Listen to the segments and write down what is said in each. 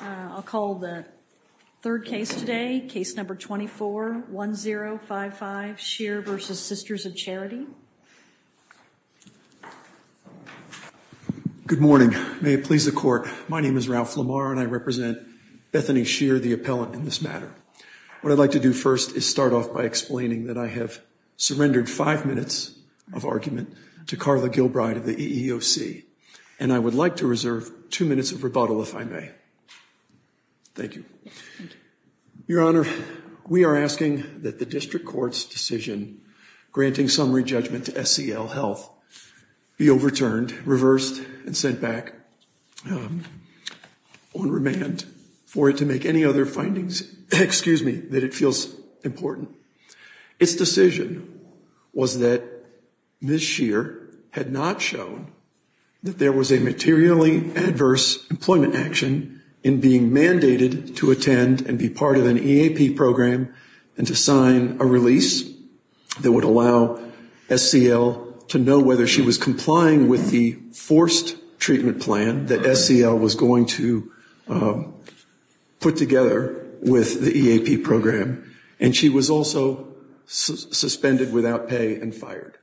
I'll call the third case today, case number 24-1055, Scheer v. Sisters of Charity. Good morning. May it please the Court, my name is Ralph Lamar and I represent Bethany Scheer, the appellant in this matter. What I'd like to do first is start off by explaining that I have surrendered five minutes of argument to Carla Gilbride of the EEOC and I would like to reserve two minutes of rebuttal if I may. Thank you. Your Honor, we are asking that the district court's decision granting summary judgment to SEL Health be overturned, reversed, and sent back on remand for it to make any other findings, excuse me, that it feels important. Its decision was that Ms. Scheer had not shown that there was a materially adverse employment action in being mandated to attend and be part of an EAP program and to sign a release that would allow SEL to know whether she was complying with the forced treatment plan that SEL was going to put together with the EAP program and she was also suspended without pay and fired.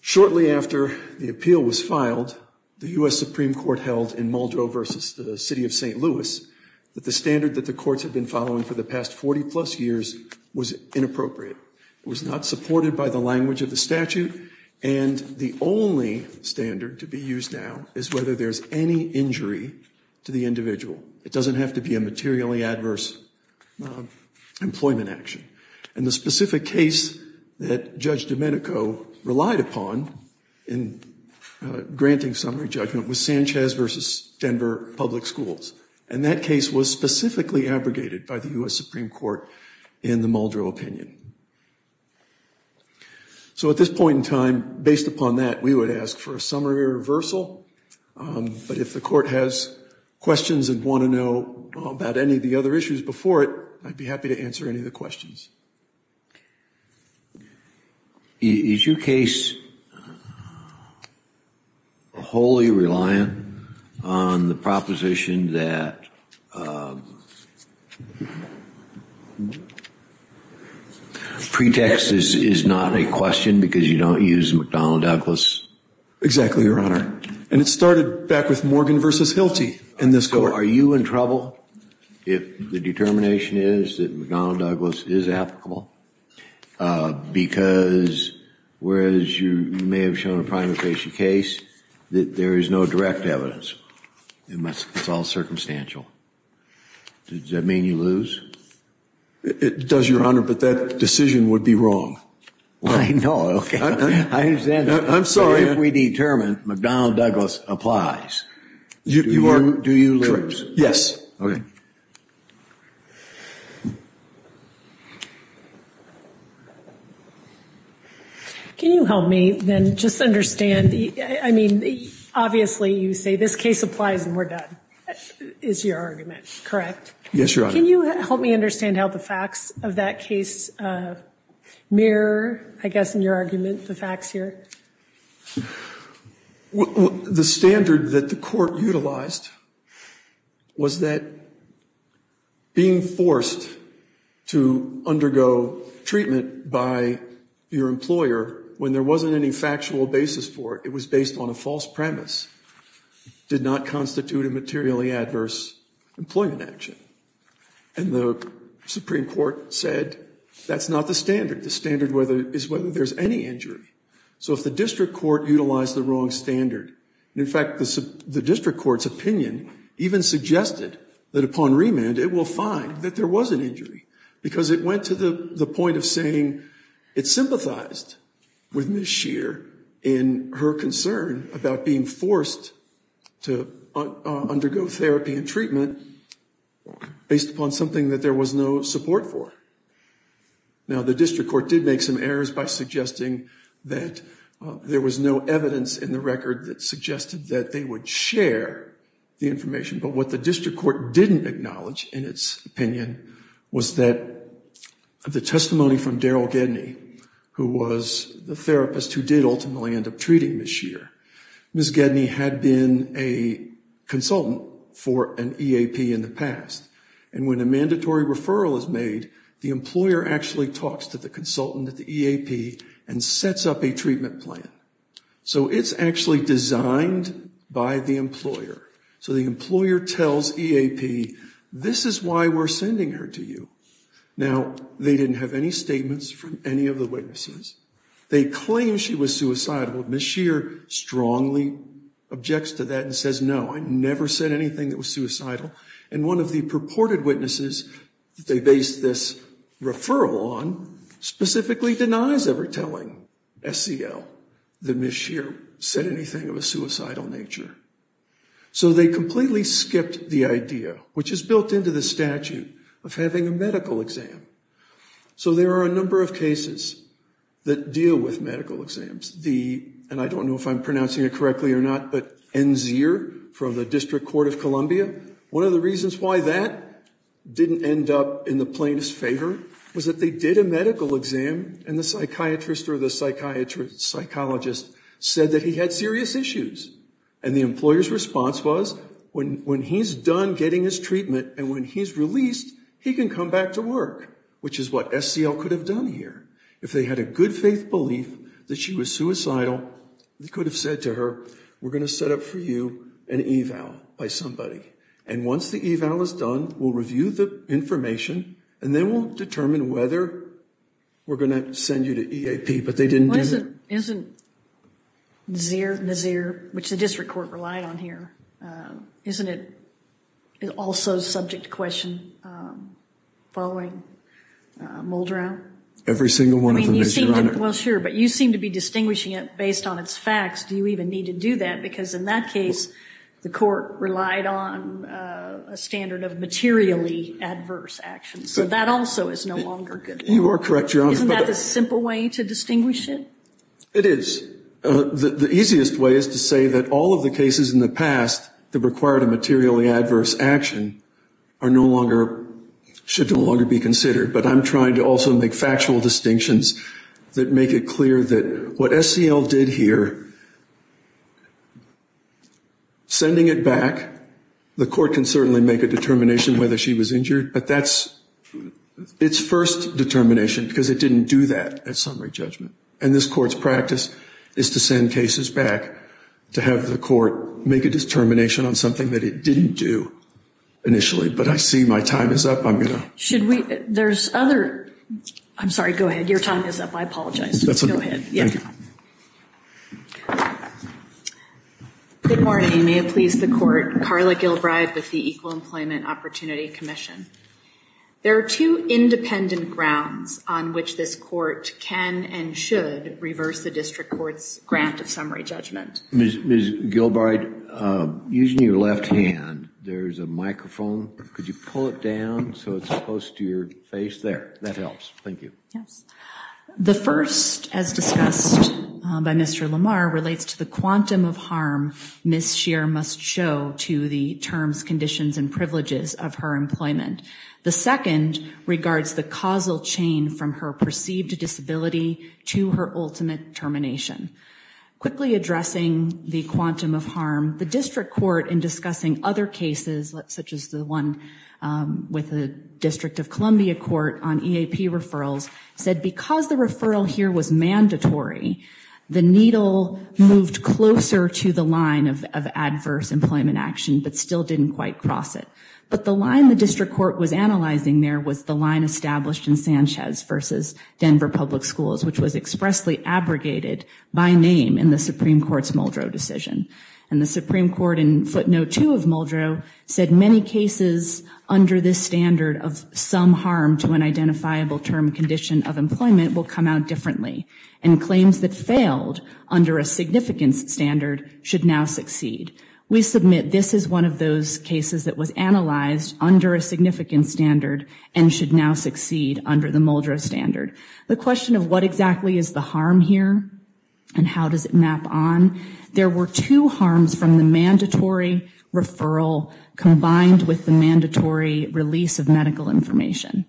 Shortly after the appeal was filed, the U.S. Supreme Court held in Muldrow v. the City of St. Louis that the standard that the courts had been following for the past 40 plus years was inappropriate. It was not supported by the language of the statute and the only standard to be used now is whether there's any injury to the individual. It doesn't have to be a materially adverse employment action. And the specific case that Judge Domenico relied upon in granting summary judgment was Sanchez v. Denver Public Schools and that case was specifically abrogated by the U.S. Supreme Court in the Muldrow opinion. So at this point in time, based upon that, we would ask for a summary reversal, but if the court has questions and want to know about any of the other issues before it, I'd be happy to answer any of the questions. Is your case wholly reliant on the proposition that pretext is not a question because you don't use McDonnell Douglas? Exactly, Your Honor. And it started back with Morgan v. Hilty in this court. So are you in trouble if the determination is that McDonnell Douglas is applicable? Because whereas you may have shown a primary case, there is no direct evidence. It's all circumstantial. Does that mean you lose? It does, Your Honor, but that decision would be wrong. I know, okay. I understand that. I'm sorry. If we determine McDonnell Douglas applies, do you lose? Yes. Okay. Can you help me then just understand, I mean, obviously you say this case applies and we're done, is your argument correct? Yes, Your Honor. Can you help me understand how the facts of that case mirror, I guess, in your argument, the facts here? The standard that the court utilized was that being forced to undergo treatment by your employer when there wasn't any factual basis for it, it was based on a false premise, did not constitute a materially adverse employment action. And the Supreme Court said that's not the standard. The standard is whether there's any injury. So if the district court utilized the wrong standard, in fact the district court's opinion even suggested that upon remand it will find that there was an injury, because it went to the point of saying it sympathized with Ms. Scheer in her concern about being forced to undergo therapy and treatment based upon something that there was no support for. Now the district court did make some errors by suggesting that there was no evidence in the record that suggested that they would share the information. But what the district court didn't acknowledge in its opinion was that the testimony from Daryl Gedney, who was the therapist who did ultimately end up treating Ms. Scheer, Ms. Gedney had been a consultant for an EAP in the past. And when a mandatory referral is made, the employer actually talks to the consultant at the EAP and sets up a treatment plan. So it's actually designed by the employer. So the employer tells EAP, this is why we're sending her to you. Now they didn't have any statements from any of the witnesses. They claim she was suicidal. Ms. Scheer strongly objects to that and says, no, I never said anything that was suicidal. And one of the purported witnesses they based this referral on specifically denies ever telling SEL that Ms. Scheer said anything of a suicidal nature. So they completely skipped the idea, which is built into the statute of having a medical exam. So there are a number of cases that deal with medical exams. And I don't know if I'm pronouncing it correctly or not, but N. Zeer from the District Court of Columbia, one of the reasons why that didn't end up in the plaintiff's favor was that they did a medical exam, and the psychiatrist or the psychologist said that he had serious issues. And the employer's response was, when he's done getting his treatment and when he's released, he can come back to work, which is what SEL could have done here. If they had a good faith belief that she was suicidal, they could have said to her, we're going to set up for you an eval by somebody. And once the eval is done, we'll review the information, and then we'll determine whether we're going to send you to EAP, but they didn't do that. Isn't N. Zeer, which the district court relied on here, isn't it also subject to question following Muldrow? Every single one of them is, Your Honor. Well, sure, but you seem to be distinguishing it based on its facts. Do you even need to do that? Because in that case, the court relied on a standard of materially adverse actions. So that also is no longer good. You are correct, Your Honor. Isn't that the simple way to distinguish it? It is. The easiest way is to say that all of the cases in the past that required a materially adverse action are no longer, should no longer be considered. But I'm trying to also make factual distinctions that make it clear that what SEL did here, sending it back, the court can certainly make a determination whether she was injured, but that's its first determination because it didn't do that at summary judgment. And this court's practice is to send cases back to have the court make a determination on something that it didn't do initially. But I see my time is up. I'm going to... There's other... I'm sorry, go ahead. Your time is up. I apologize. Go ahead. Thank you. Good morning. May it please the court. Carla Gilbride with the Equal Employment Opportunity Commission. There are two independent grounds on which this court can and should reverse the district court's grant of summary judgment. Ms. Gilbride, using your left hand, there's a microphone. Could you pull it down so it's close to your face? There, that helps. Thank you. Yes. The first, as discussed by Mr. Lamar, relates to the quantum of harm Ms. Scheer must show to the terms, conditions, and privileges of her employment. The second regards the causal chain from her perceived disability to her ultimate termination. Quickly addressing the quantum of harm, the district court, in discussing other cases, such as the one with the District of Columbia Court on EAP referrals, said because the referral here was mandatory, the needle moved closer to the line of adverse employment action but still didn't quite cross it. But the line the district court was analyzing there was the line established in Sanchez versus Denver Public Schools, which was expressly abrogated by name in the Supreme Court's Muldrow decision. And the Supreme Court in footnote two of Muldrow said many cases under this standard of some harm to an identifiable term condition of employment will come out differently, and claims that failed under a significant standard should now succeed. We submit this is one of those cases that was analyzed under a significant standard and should now succeed under the Muldrow standard. The question of what exactly is the harm here and how does it map on, there were two harms from the mandatory referral combined with the mandatory release of medical information,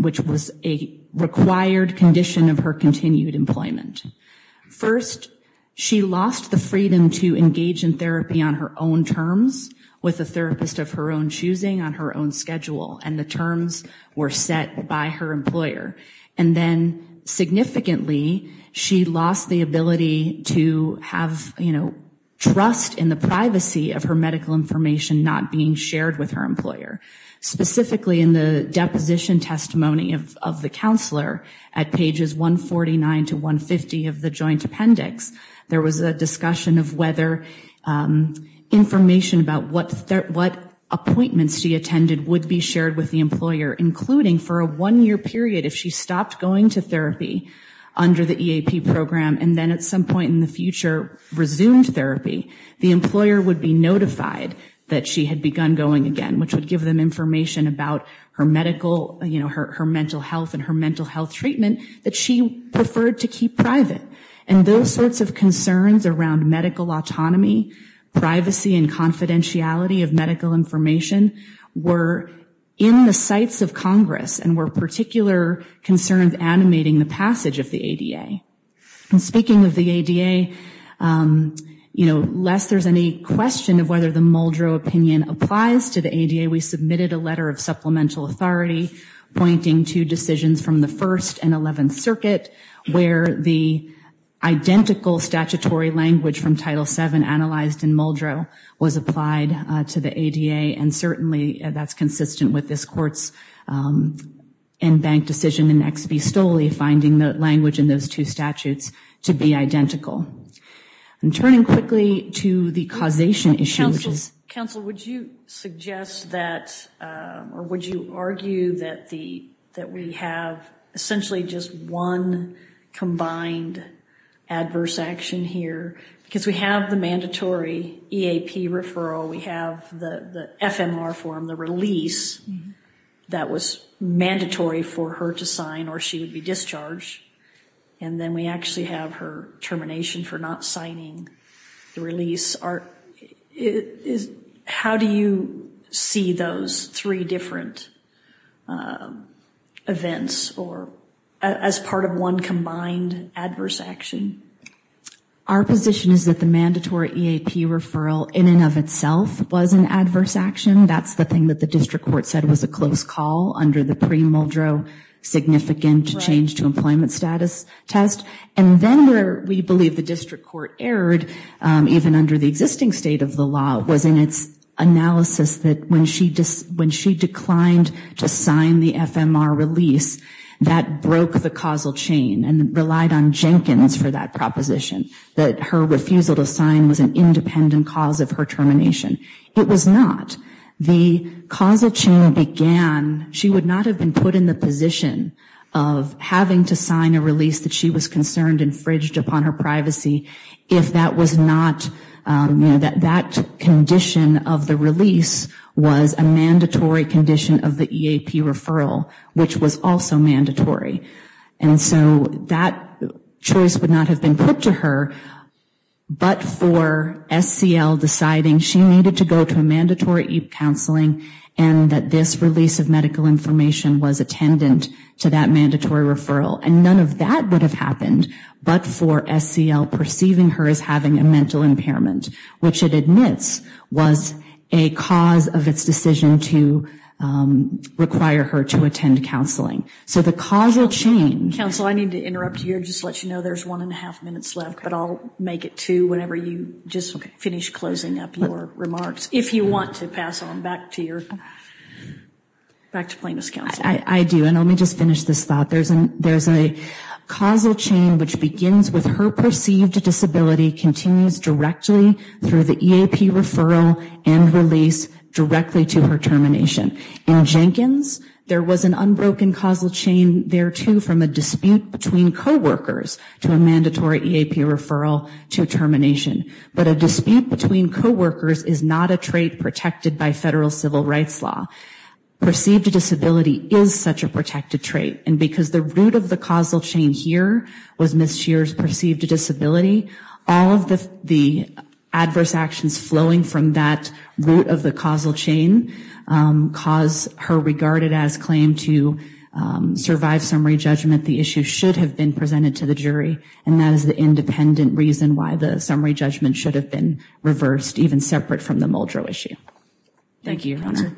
which was a required condition of her continued employment. First, she lost the freedom to engage in therapy on her own terms with a therapist of her own choosing, on her own schedule, and the terms were set by her employer. And then significantly, she lost the ability to have, you know, trust in the privacy of her medical information not being shared with her employer. Specifically in the deposition testimony of the counselor at pages 149 to 150 of the joint appendix, there was a discussion of whether information about what appointments she attended would be shared with the employer, including for a one-year period, if she stopped going to therapy under the EAP program and then at some point in the future resumed therapy, the employer would be notified that she had begun going again, which would give them information about her medical, you know, her mental health and her mental health treatment that she preferred to keep private. And those sorts of concerns around medical autonomy, privacy, and confidentiality of medical information were in the sights of Congress and were particular concerns animating the passage of the ADA. And speaking of the ADA, you know, lest there's any question of whether the Muldrow opinion applies to the ADA, we submitted a letter of supplemental authority pointing to decisions from the First and Eleventh Circuit where the identical statutory language from Title VII, analyzed in Muldrow, was applied to the ADA, and certainly that's consistent with this court's in-bank decision in Ex Bistoli, finding the language in those two statutes to be identical. And turning quickly to the causation issue, which is- There's actually just one combined adverse action here. Because we have the mandatory EAP referral, we have the FMR form, the release that was mandatory for her to sign or she would be discharged, and then we actually have her termination for not signing the release. How do you see those three different events as part of one combined adverse action? Our position is that the mandatory EAP referral in and of itself was an adverse action. That's the thing that the district court said was a close call under the pre-Muldrow significant change to employment status test. And then where we believe the district court erred, even under the existing state of the law, was in its analysis that when she declined to sign the FMR release, that broke the causal chain and relied on Jenkins for that proposition, that her refusal to sign was an independent cause of her termination. It was not. The causal chain began- She would not have been put in the position of having to sign a release that she was concerned infringed upon her privacy if that was not- That condition of the release was a mandatory condition of the EAP referral, which was also mandatory. And so that choice would not have been put to her, but for SCL deciding she needed to go to a mandatory EAP counseling and that this release of medical information was attendant to that mandatory referral. And none of that would have happened but for SCL perceiving her as having a mental impairment, which it admits was a cause of its decision to require her to attend counseling. So the causal chain- Counsel, I need to interrupt you and just let you know there's one and a half minutes left, but I'll make it two whenever you just finish closing up your remarks. If you want to pass on back to your- back to plaintiff's counsel. I do. And let me just finish this thought. There's a causal chain which begins with her perceived disability continues directly through the EAP referral and release directly to her termination. In Jenkins, there was an unbroken causal chain there, too, from a dispute between coworkers to a mandatory EAP referral to termination. But a dispute between coworkers is not a trait protected by federal civil rights law. Perceived disability is such a protected trait, and because the root of the causal chain here was Ms. Scheer's perceived disability, all of the adverse actions flowing from that root of the causal chain cause her regarded as claimed to survive summary judgment. The issue should have been presented to the jury, and that is the independent reason why the summary judgment should have been reversed, even separate from the Muldrow issue. Thank you, Your Honor.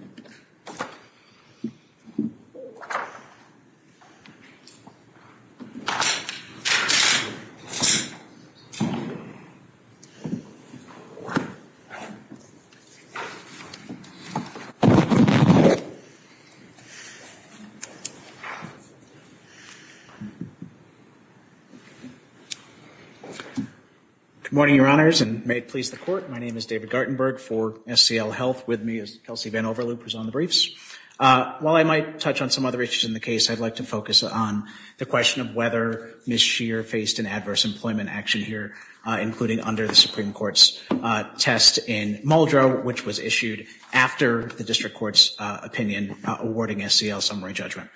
Good morning, Your Honors, and may it please the Court. My name is David Gartenberg for SCL Health. With me is Kelsey VanOverloop, who's on the briefs. While I might touch on some other issues in the case, I'd like to focus on the question of whether Ms. Scheer faced an adverse employment action here, including under the Supreme Court's test in Muldrow, which was issued after the district court's opinion awarding SCL summary judgment.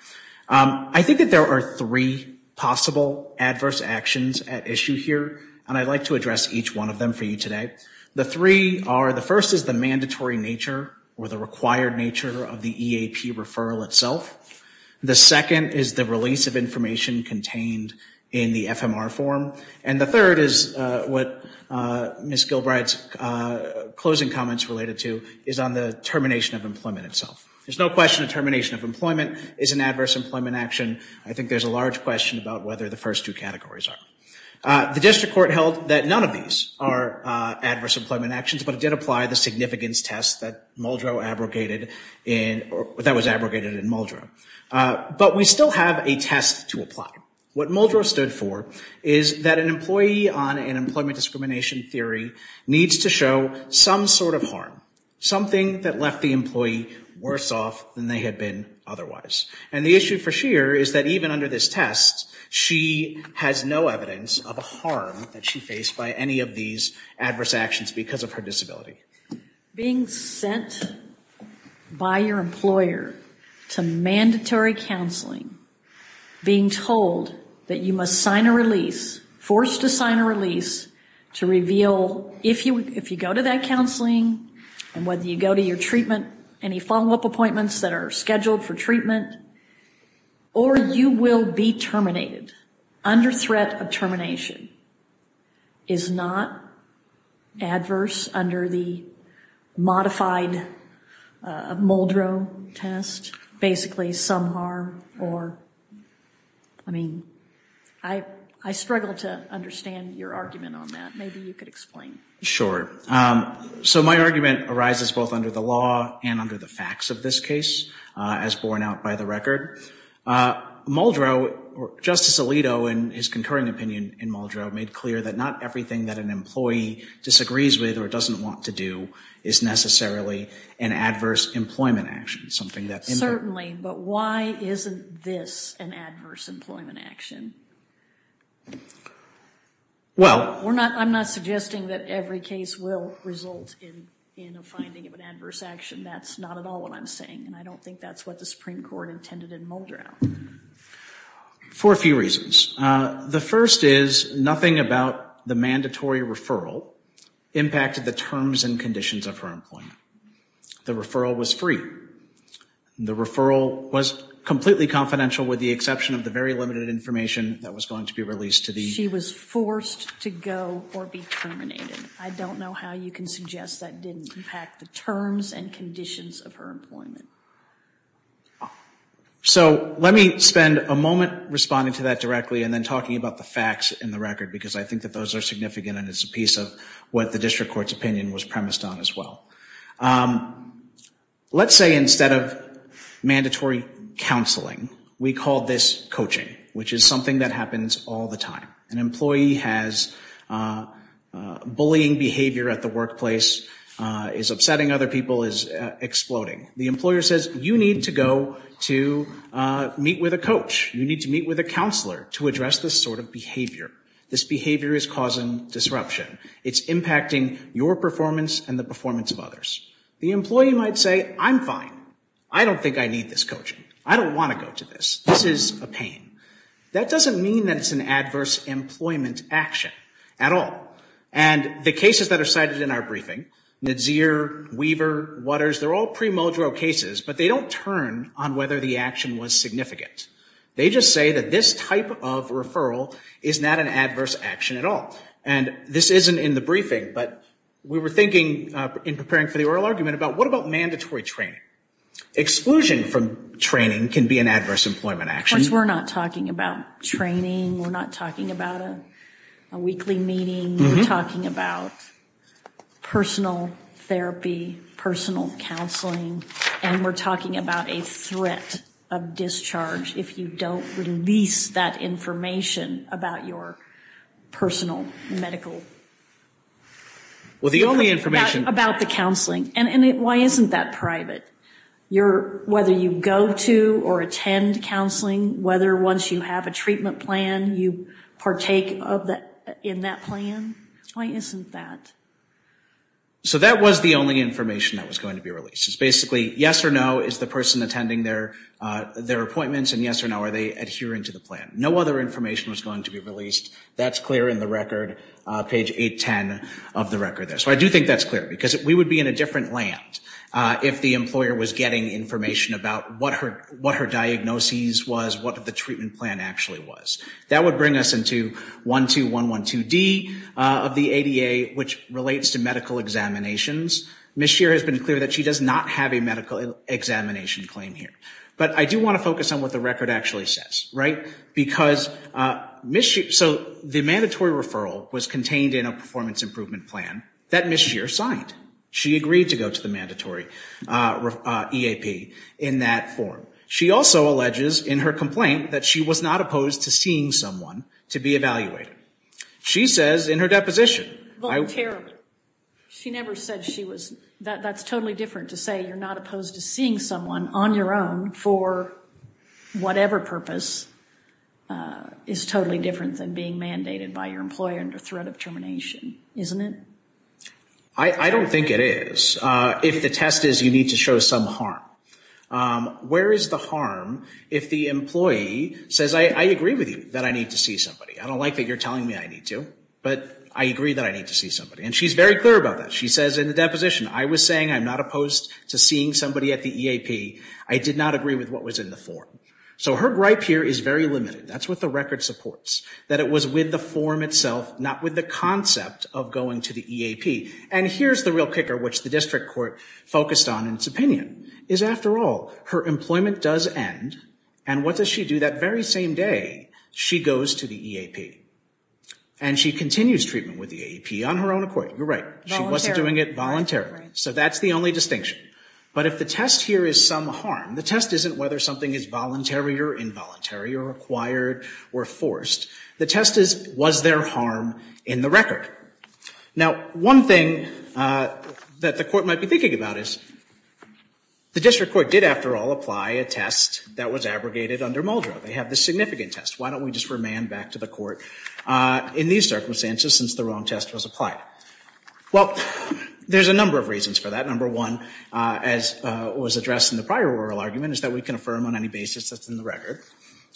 I think that there are three possible adverse actions at issue here, and I'd like to address each one of them for you today. The three are, the first is the mandatory nature or the required nature of the EAP referral itself. The second is the release of information contained in the FMR form, and the third is what Ms. Gilbride's closing comments related to is on the termination of employment itself. There's no question a termination of employment is an adverse employment action. I think there's a large question about whether the first two categories are. The district court held that none of these are adverse employment actions, but it did apply the significance test that Muldrow abrogated in, that was abrogated in Muldrow. But we still have a test to apply. What Muldrow stood for is that an employee on an employment discrimination theory needs to show some sort of harm, something that left the employee worse off than they had been otherwise. And the issue for Scheer is that even under this test, she has no evidence of a harm that she faced by any of these adverse actions because of her disability. Being sent by your employer to mandatory counseling, being told that you must sign a release, forced to sign a release, to reveal if you go to that counseling and whether you go to your treatment, any follow-up appointments that are scheduled for treatment, or you will be terminated under threat of termination, is not adverse under the modified Muldrow test. It's basically some harm or, I mean, I struggle to understand your argument on that. Maybe you could explain. So my argument arises both under the law and under the facts of this case, as borne out by the record. Muldrow, Justice Alito in his concurring opinion in Muldrow, made clear that not everything that an employee disagrees with or doesn't want to do is necessarily an adverse employment action, something that... Certainly, but why isn't this an adverse employment action? Well... I'm not suggesting that every case will result in a finding of an adverse action. That's not at all what I'm saying, and I don't think that's what the Supreme Court intended in Muldrow. For a few reasons. The first is nothing about the mandatory referral impacted the terms and conditions of her employment. The referral was free. The referral was completely confidential with the exception of the very limited information that was going to be released to the... She was forced to go or be terminated. I don't know how you can suggest that didn't impact the terms and conditions of her employment. So let me spend a moment responding to that directly and then talking about the facts in the record, because I think that those are significant and it's a piece of what the district court's opinion was premised on as well. Let's say instead of mandatory counseling, we call this coaching, which is something that happens all the time. An employee has bullying behavior at the workplace, is upsetting other people, is exploding. The employer says, you need to go to meet with a coach. You need to meet with a counselor to address this sort of behavior. This behavior is causing disruption. It's impacting your performance and the performance of others. The employee might say, I'm fine. I don't think I need this coaching. I don't want to go to this. This is a pain. That doesn't mean that it's an adverse employment action at all. And the cases that are cited in our briefing, Nadeer, Weaver, Watters, they're all pre-mojo cases, but they don't turn on whether the action was significant. They just say that this type of referral is not an adverse action at all. And this isn't in the briefing, but we were thinking in preparing for the oral argument about, what about mandatory training? Exclusion from training can be an adverse employment action. Of course, we're not talking about training. We're not talking about a weekly meeting. We're talking about personal therapy, personal counseling, and we're talking about a threat of discharge if you don't release that information about your personal medical. Well, the only information. About the counseling. And why isn't that private? Whether you go to or attend counseling, whether once you have a treatment plan, you partake in that plan. Why isn't that? So that was the only information that was going to be released. It's basically, yes or no, is the person attending their appointments, and yes or no, are they adhering to the plan? No other information was going to be released. That's clear in the record, page 810 of the record there. So I do think that's clear, because we would be in a different land if the employer was getting information about what her diagnoses was, what the treatment plan actually was. That would bring us into 12112D of the ADA, which relates to medical examinations. Ms. Scheer has been clear that she does not have a medical examination claim here. But I do want to focus on what the record actually says, right? Because Ms. Scheer, so the mandatory referral was contained in a performance improvement plan that Ms. Scheer signed. She agreed to go to the mandatory EAP in that form. She also alleges in her complaint that she was not opposed to seeing someone to be evaluated. She says in her deposition. Well, terribly. She never said she was. That's totally different to say you're not opposed to seeing someone on your own for whatever purpose is totally different than being mandated by your employer under threat of termination, isn't it? I don't think it is. If the test is you need to show some harm. Where is the harm if the employee says, I agree with you that I need to see somebody. I don't like that you're telling me I need to. But I agree that I need to see somebody. And she's very clear about that. She says in the deposition, I was saying I'm not opposed to seeing somebody at the EAP. I did not agree with what was in the form. So her gripe here is very limited. That's what the record supports. That it was with the form itself, not with the concept of going to the EAP. And here's the real kicker, which the district court focused on in its opinion, is after all, her employment does end. And what does she do that very same day? She goes to the EAP. And she continues treatment with the EAP on her own accord. You're right. She wasn't doing it voluntarily. So that's the only distinction. But if the test here is some harm, the test isn't whether something is voluntary or involuntary or required or forced. The test is, was there harm in the record? Now, one thing that the court might be thinking about is the district court did, after all, apply a test that was abrogated under Muldrow. They have this significant test. Why don't we just remand back to the court in these circumstances since the wrong test was applied? Well, there's a number of reasons for that. Number one, as was addressed in the prior oral argument, is that we can affirm on any basis that's in the record.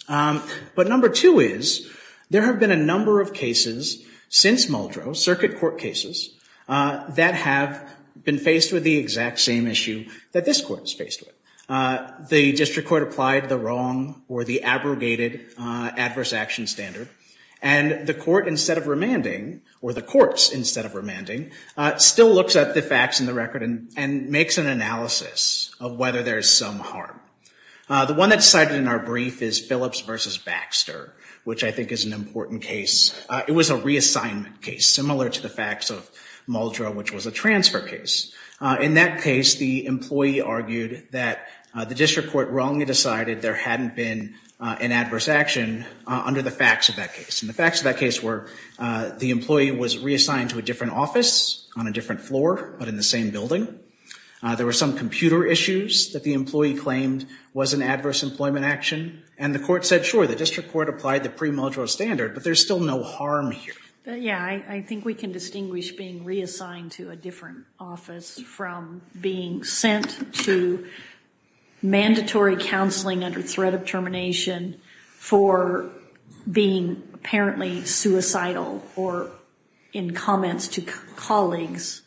But number two is, there have been a number of cases since Muldrow, circuit court cases, that have been faced with the exact same issue that this court is faced with. The district court applied the wrong or the abrogated adverse action standard, and the court instead of remanding, or the courts instead of remanding, still looks at the facts in the record and makes an analysis of whether there's some harm. The one that's cited in our brief is Phillips v. Baxter, which I think is an important case. It was a reassignment case, similar to the facts of Muldrow, which was a transfer case. In that case, the employee argued that the district court wrongly decided there hadn't been an adverse action under the facts of that case. And the facts of that case were, the employee was reassigned to a different office on a different floor, but in the same building. There were some computer issues that the employee claimed was an adverse employment action. And the court said, sure, the district court applied the pre-Muldrow standard, but there's still no harm here. Yeah, I think we can distinguish being reassigned to a different office from being sent to mandatory counseling under threat of termination for being apparently suicidal, or in comments to colleagues,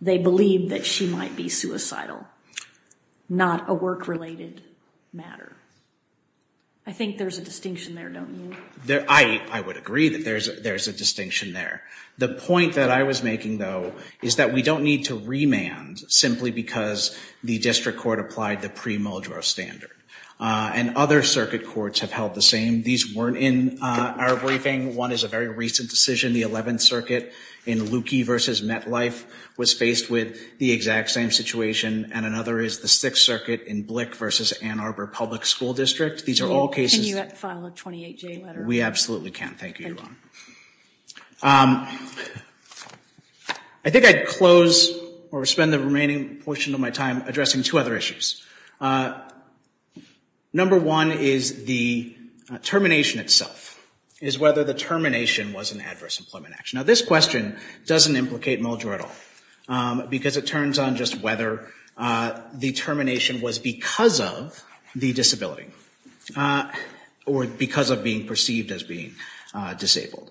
they believe that she might be suicidal, not a work-related matter. I think there's a distinction there, don't you? I would agree that there's a distinction there. The point that I was making, though, is that we don't need to remand simply because the district court applied the pre-Muldrow standard. And other circuit courts have held the same. These weren't in our briefing. One is a very recent decision. The 11th Circuit in Luckey v. MetLife was faced with the exact same situation. And another is the 6th Circuit in Blick v. Ann Arbor Public School District. These are all cases that- Can you file a 28-J letter? We absolutely can. Thank you, Your Honor. I think I'd close or spend the remaining portion of my time addressing two other issues. Number one is the termination itself, is whether the termination was an adverse employment action. Now, this question doesn't implicate Muldrow at all, because it turns on just whether the termination was because of the disability, or because of being perceived as being disabled.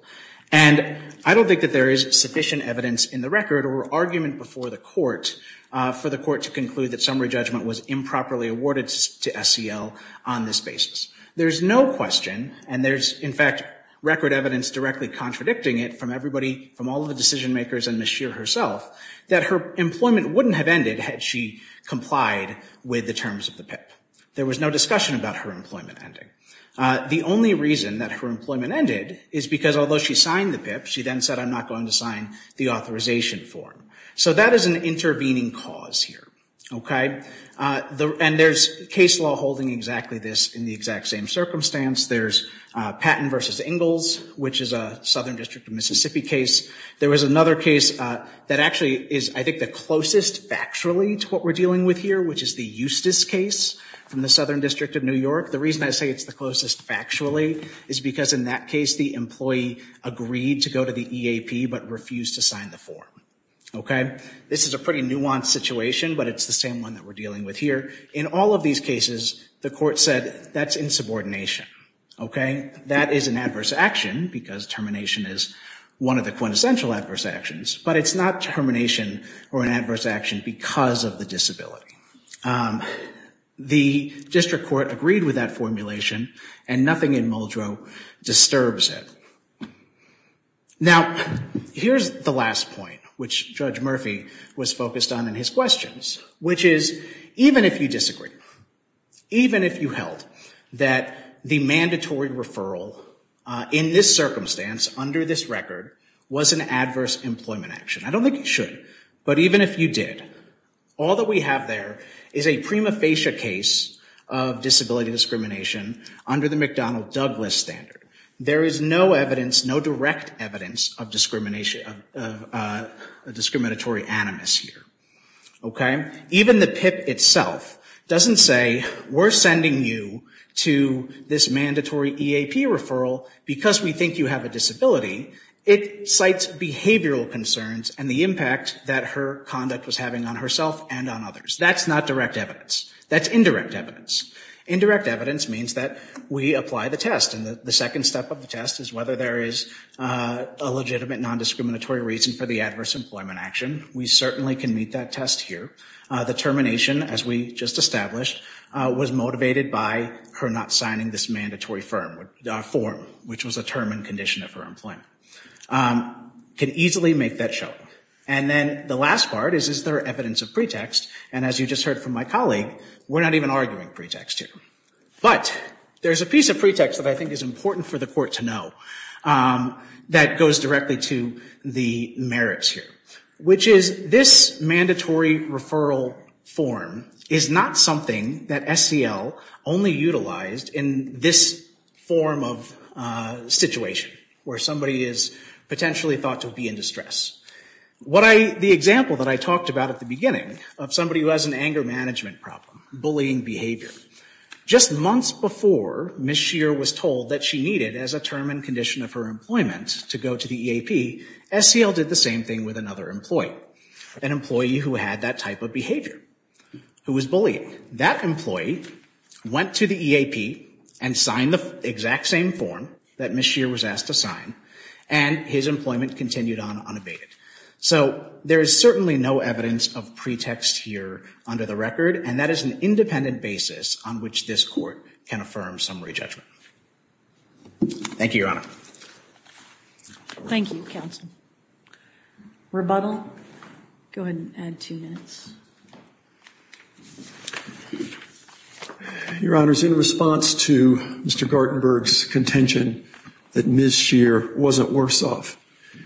And I don't think that there is sufficient evidence in the record or argument before the court for the court to conclude that summary judgment was improperly awarded to SEL on this basis. There's no question, and there's, in fact, record evidence directly contradicting it from everybody, from all the decision makers and Ms. Scheer herself, that her employment wouldn't have ended had she complied with the terms of the PIP. There was no discussion about her employment ending. The only reason that her employment ended is because, although she signed the PIP, she then said, I'm not going to sign the authorization form. So that is an intervening cause here, okay? And there's case law holding exactly this in the exact same circumstance. There's Patton v. Ingalls, which is a Southern District of Mississippi case. There was another case that actually is, I think, the closest factually to what we're dealing with here, which is the Eustis case from the Southern District of New York. The reason I say it's the closest factually is because, in that case, the employee agreed to go to the EAP but refused to sign the form. Okay? This is a pretty nuanced situation, but it's the same one that we're dealing with here. In all of these cases, the court said that's insubordination. Okay? That is an adverse action because termination is one of the quintessential adverse actions. But it's not termination or an adverse action because of the disability. The district court agreed with that formulation, and nothing in Muldrow disturbs it. Now, here's the last point, which Judge Murphy was focused on in his questions, which is, even if you disagree, even if you held that the mandatory referral in this circumstance, under this record, was an adverse employment action. I don't think it should. But even if you did, all that we have there is a prima facie case of disability discrimination under the McDonnell-Douglas standard. There is no evidence, no direct evidence of discrimination, of discriminatory animus here. Okay? Even the PIP itself doesn't say, we're sending you to this mandatory EAP referral because we think you have a disability. Secondly, it cites behavioral concerns and the impact that her conduct was having on herself and on others. That's not direct evidence. That's indirect evidence. Indirect evidence means that we apply the test. And the second step of the test is whether there is a legitimate nondiscriminatory reason for the adverse employment action. We certainly can meet that test here. The termination, as we just established, was motivated by her not signing this mandatory form, which was a term and condition of her employment. Can easily make that show. And then the last part is, is there evidence of pretext? And as you just heard from my colleague, we're not even arguing pretext here. But there's a piece of pretext that I think is important for the Court to know that goes directly to the merits here, which is, this mandatory referral form is not something that SEL only utilized in this form of situation where somebody is potentially thought to be in distress. The example that I talked about at the beginning of somebody who has an anger management problem, bullying behavior, just months before Ms. Shear was told that she needed, as a term and condition of her employment, to go to the EAP, SEL did the same thing with another employee, an employee who had that type of behavior, who was bullying. That employee went to the EAP and signed the exact same form that Ms. Shear was asked to sign, and his employment continued on unabated. So there is certainly no evidence of pretext here under the record, and that is an independent basis on which this Court can affirm summary judgment. Thank you, Your Honor. Thank you, Counsel. Rebuttal? Go ahead and add two minutes. Your Honor, in response to Mr. Gartenberg's contention that Ms. Shear wasn't worse off,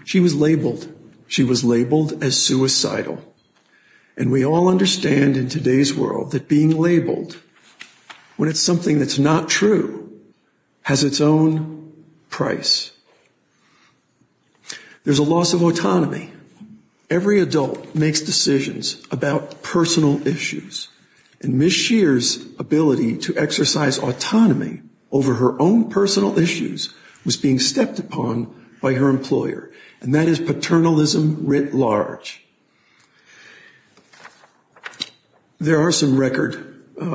she was labeled. She was labeled as suicidal. And we all understand in today's world that being labeled when it's something that's not true has its own price. There's a loss of autonomy. Every adult makes decisions about personal issues, and Ms. Shear's ability to exercise autonomy over her own personal issues was being stepped upon by her employer, and that is paternalism writ large. There are some record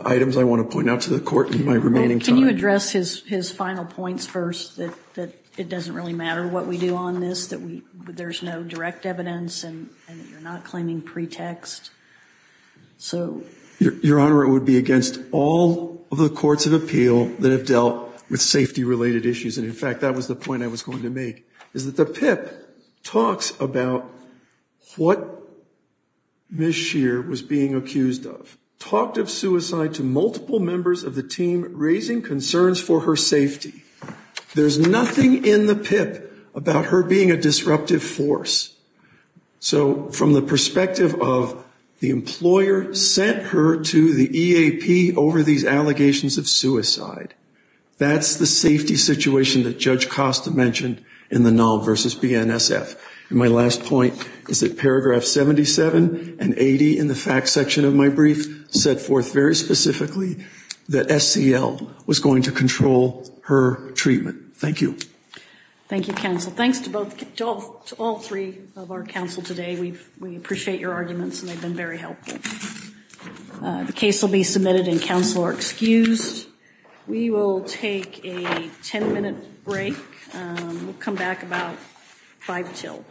items I want to point out to the Court in my remaining time. Can you address his final points first, that it doesn't really matter what we do on this, that there's no direct evidence and you're not claiming pretext? Your Honor, it would be against all of the courts of appeal that have dealt with safety-related issues. And, in fact, that was the point I was going to make, is that the PIP talks about what Ms. Shear was being accused of, talked of suicide to multiple members of the team, raising concerns for her safety. There's nothing in the PIP about her being a disruptive force. So from the perspective of the employer sent her to the EAP over these allegations of suicide, that's the safety situation that Judge Costa mentioned in the null versus BNSF. And my last point is that Paragraph 77 and 80 in the facts section of my brief set forth very specifically that SEL was going to control her treatment. Thank you. Thank you, counsel. Thanks to all three of our counsel today. We appreciate your arguments, and they've been very helpful. The case will be submitted, and counsel are excused. We will take a 10-minute break. We'll come back about 5 till 11.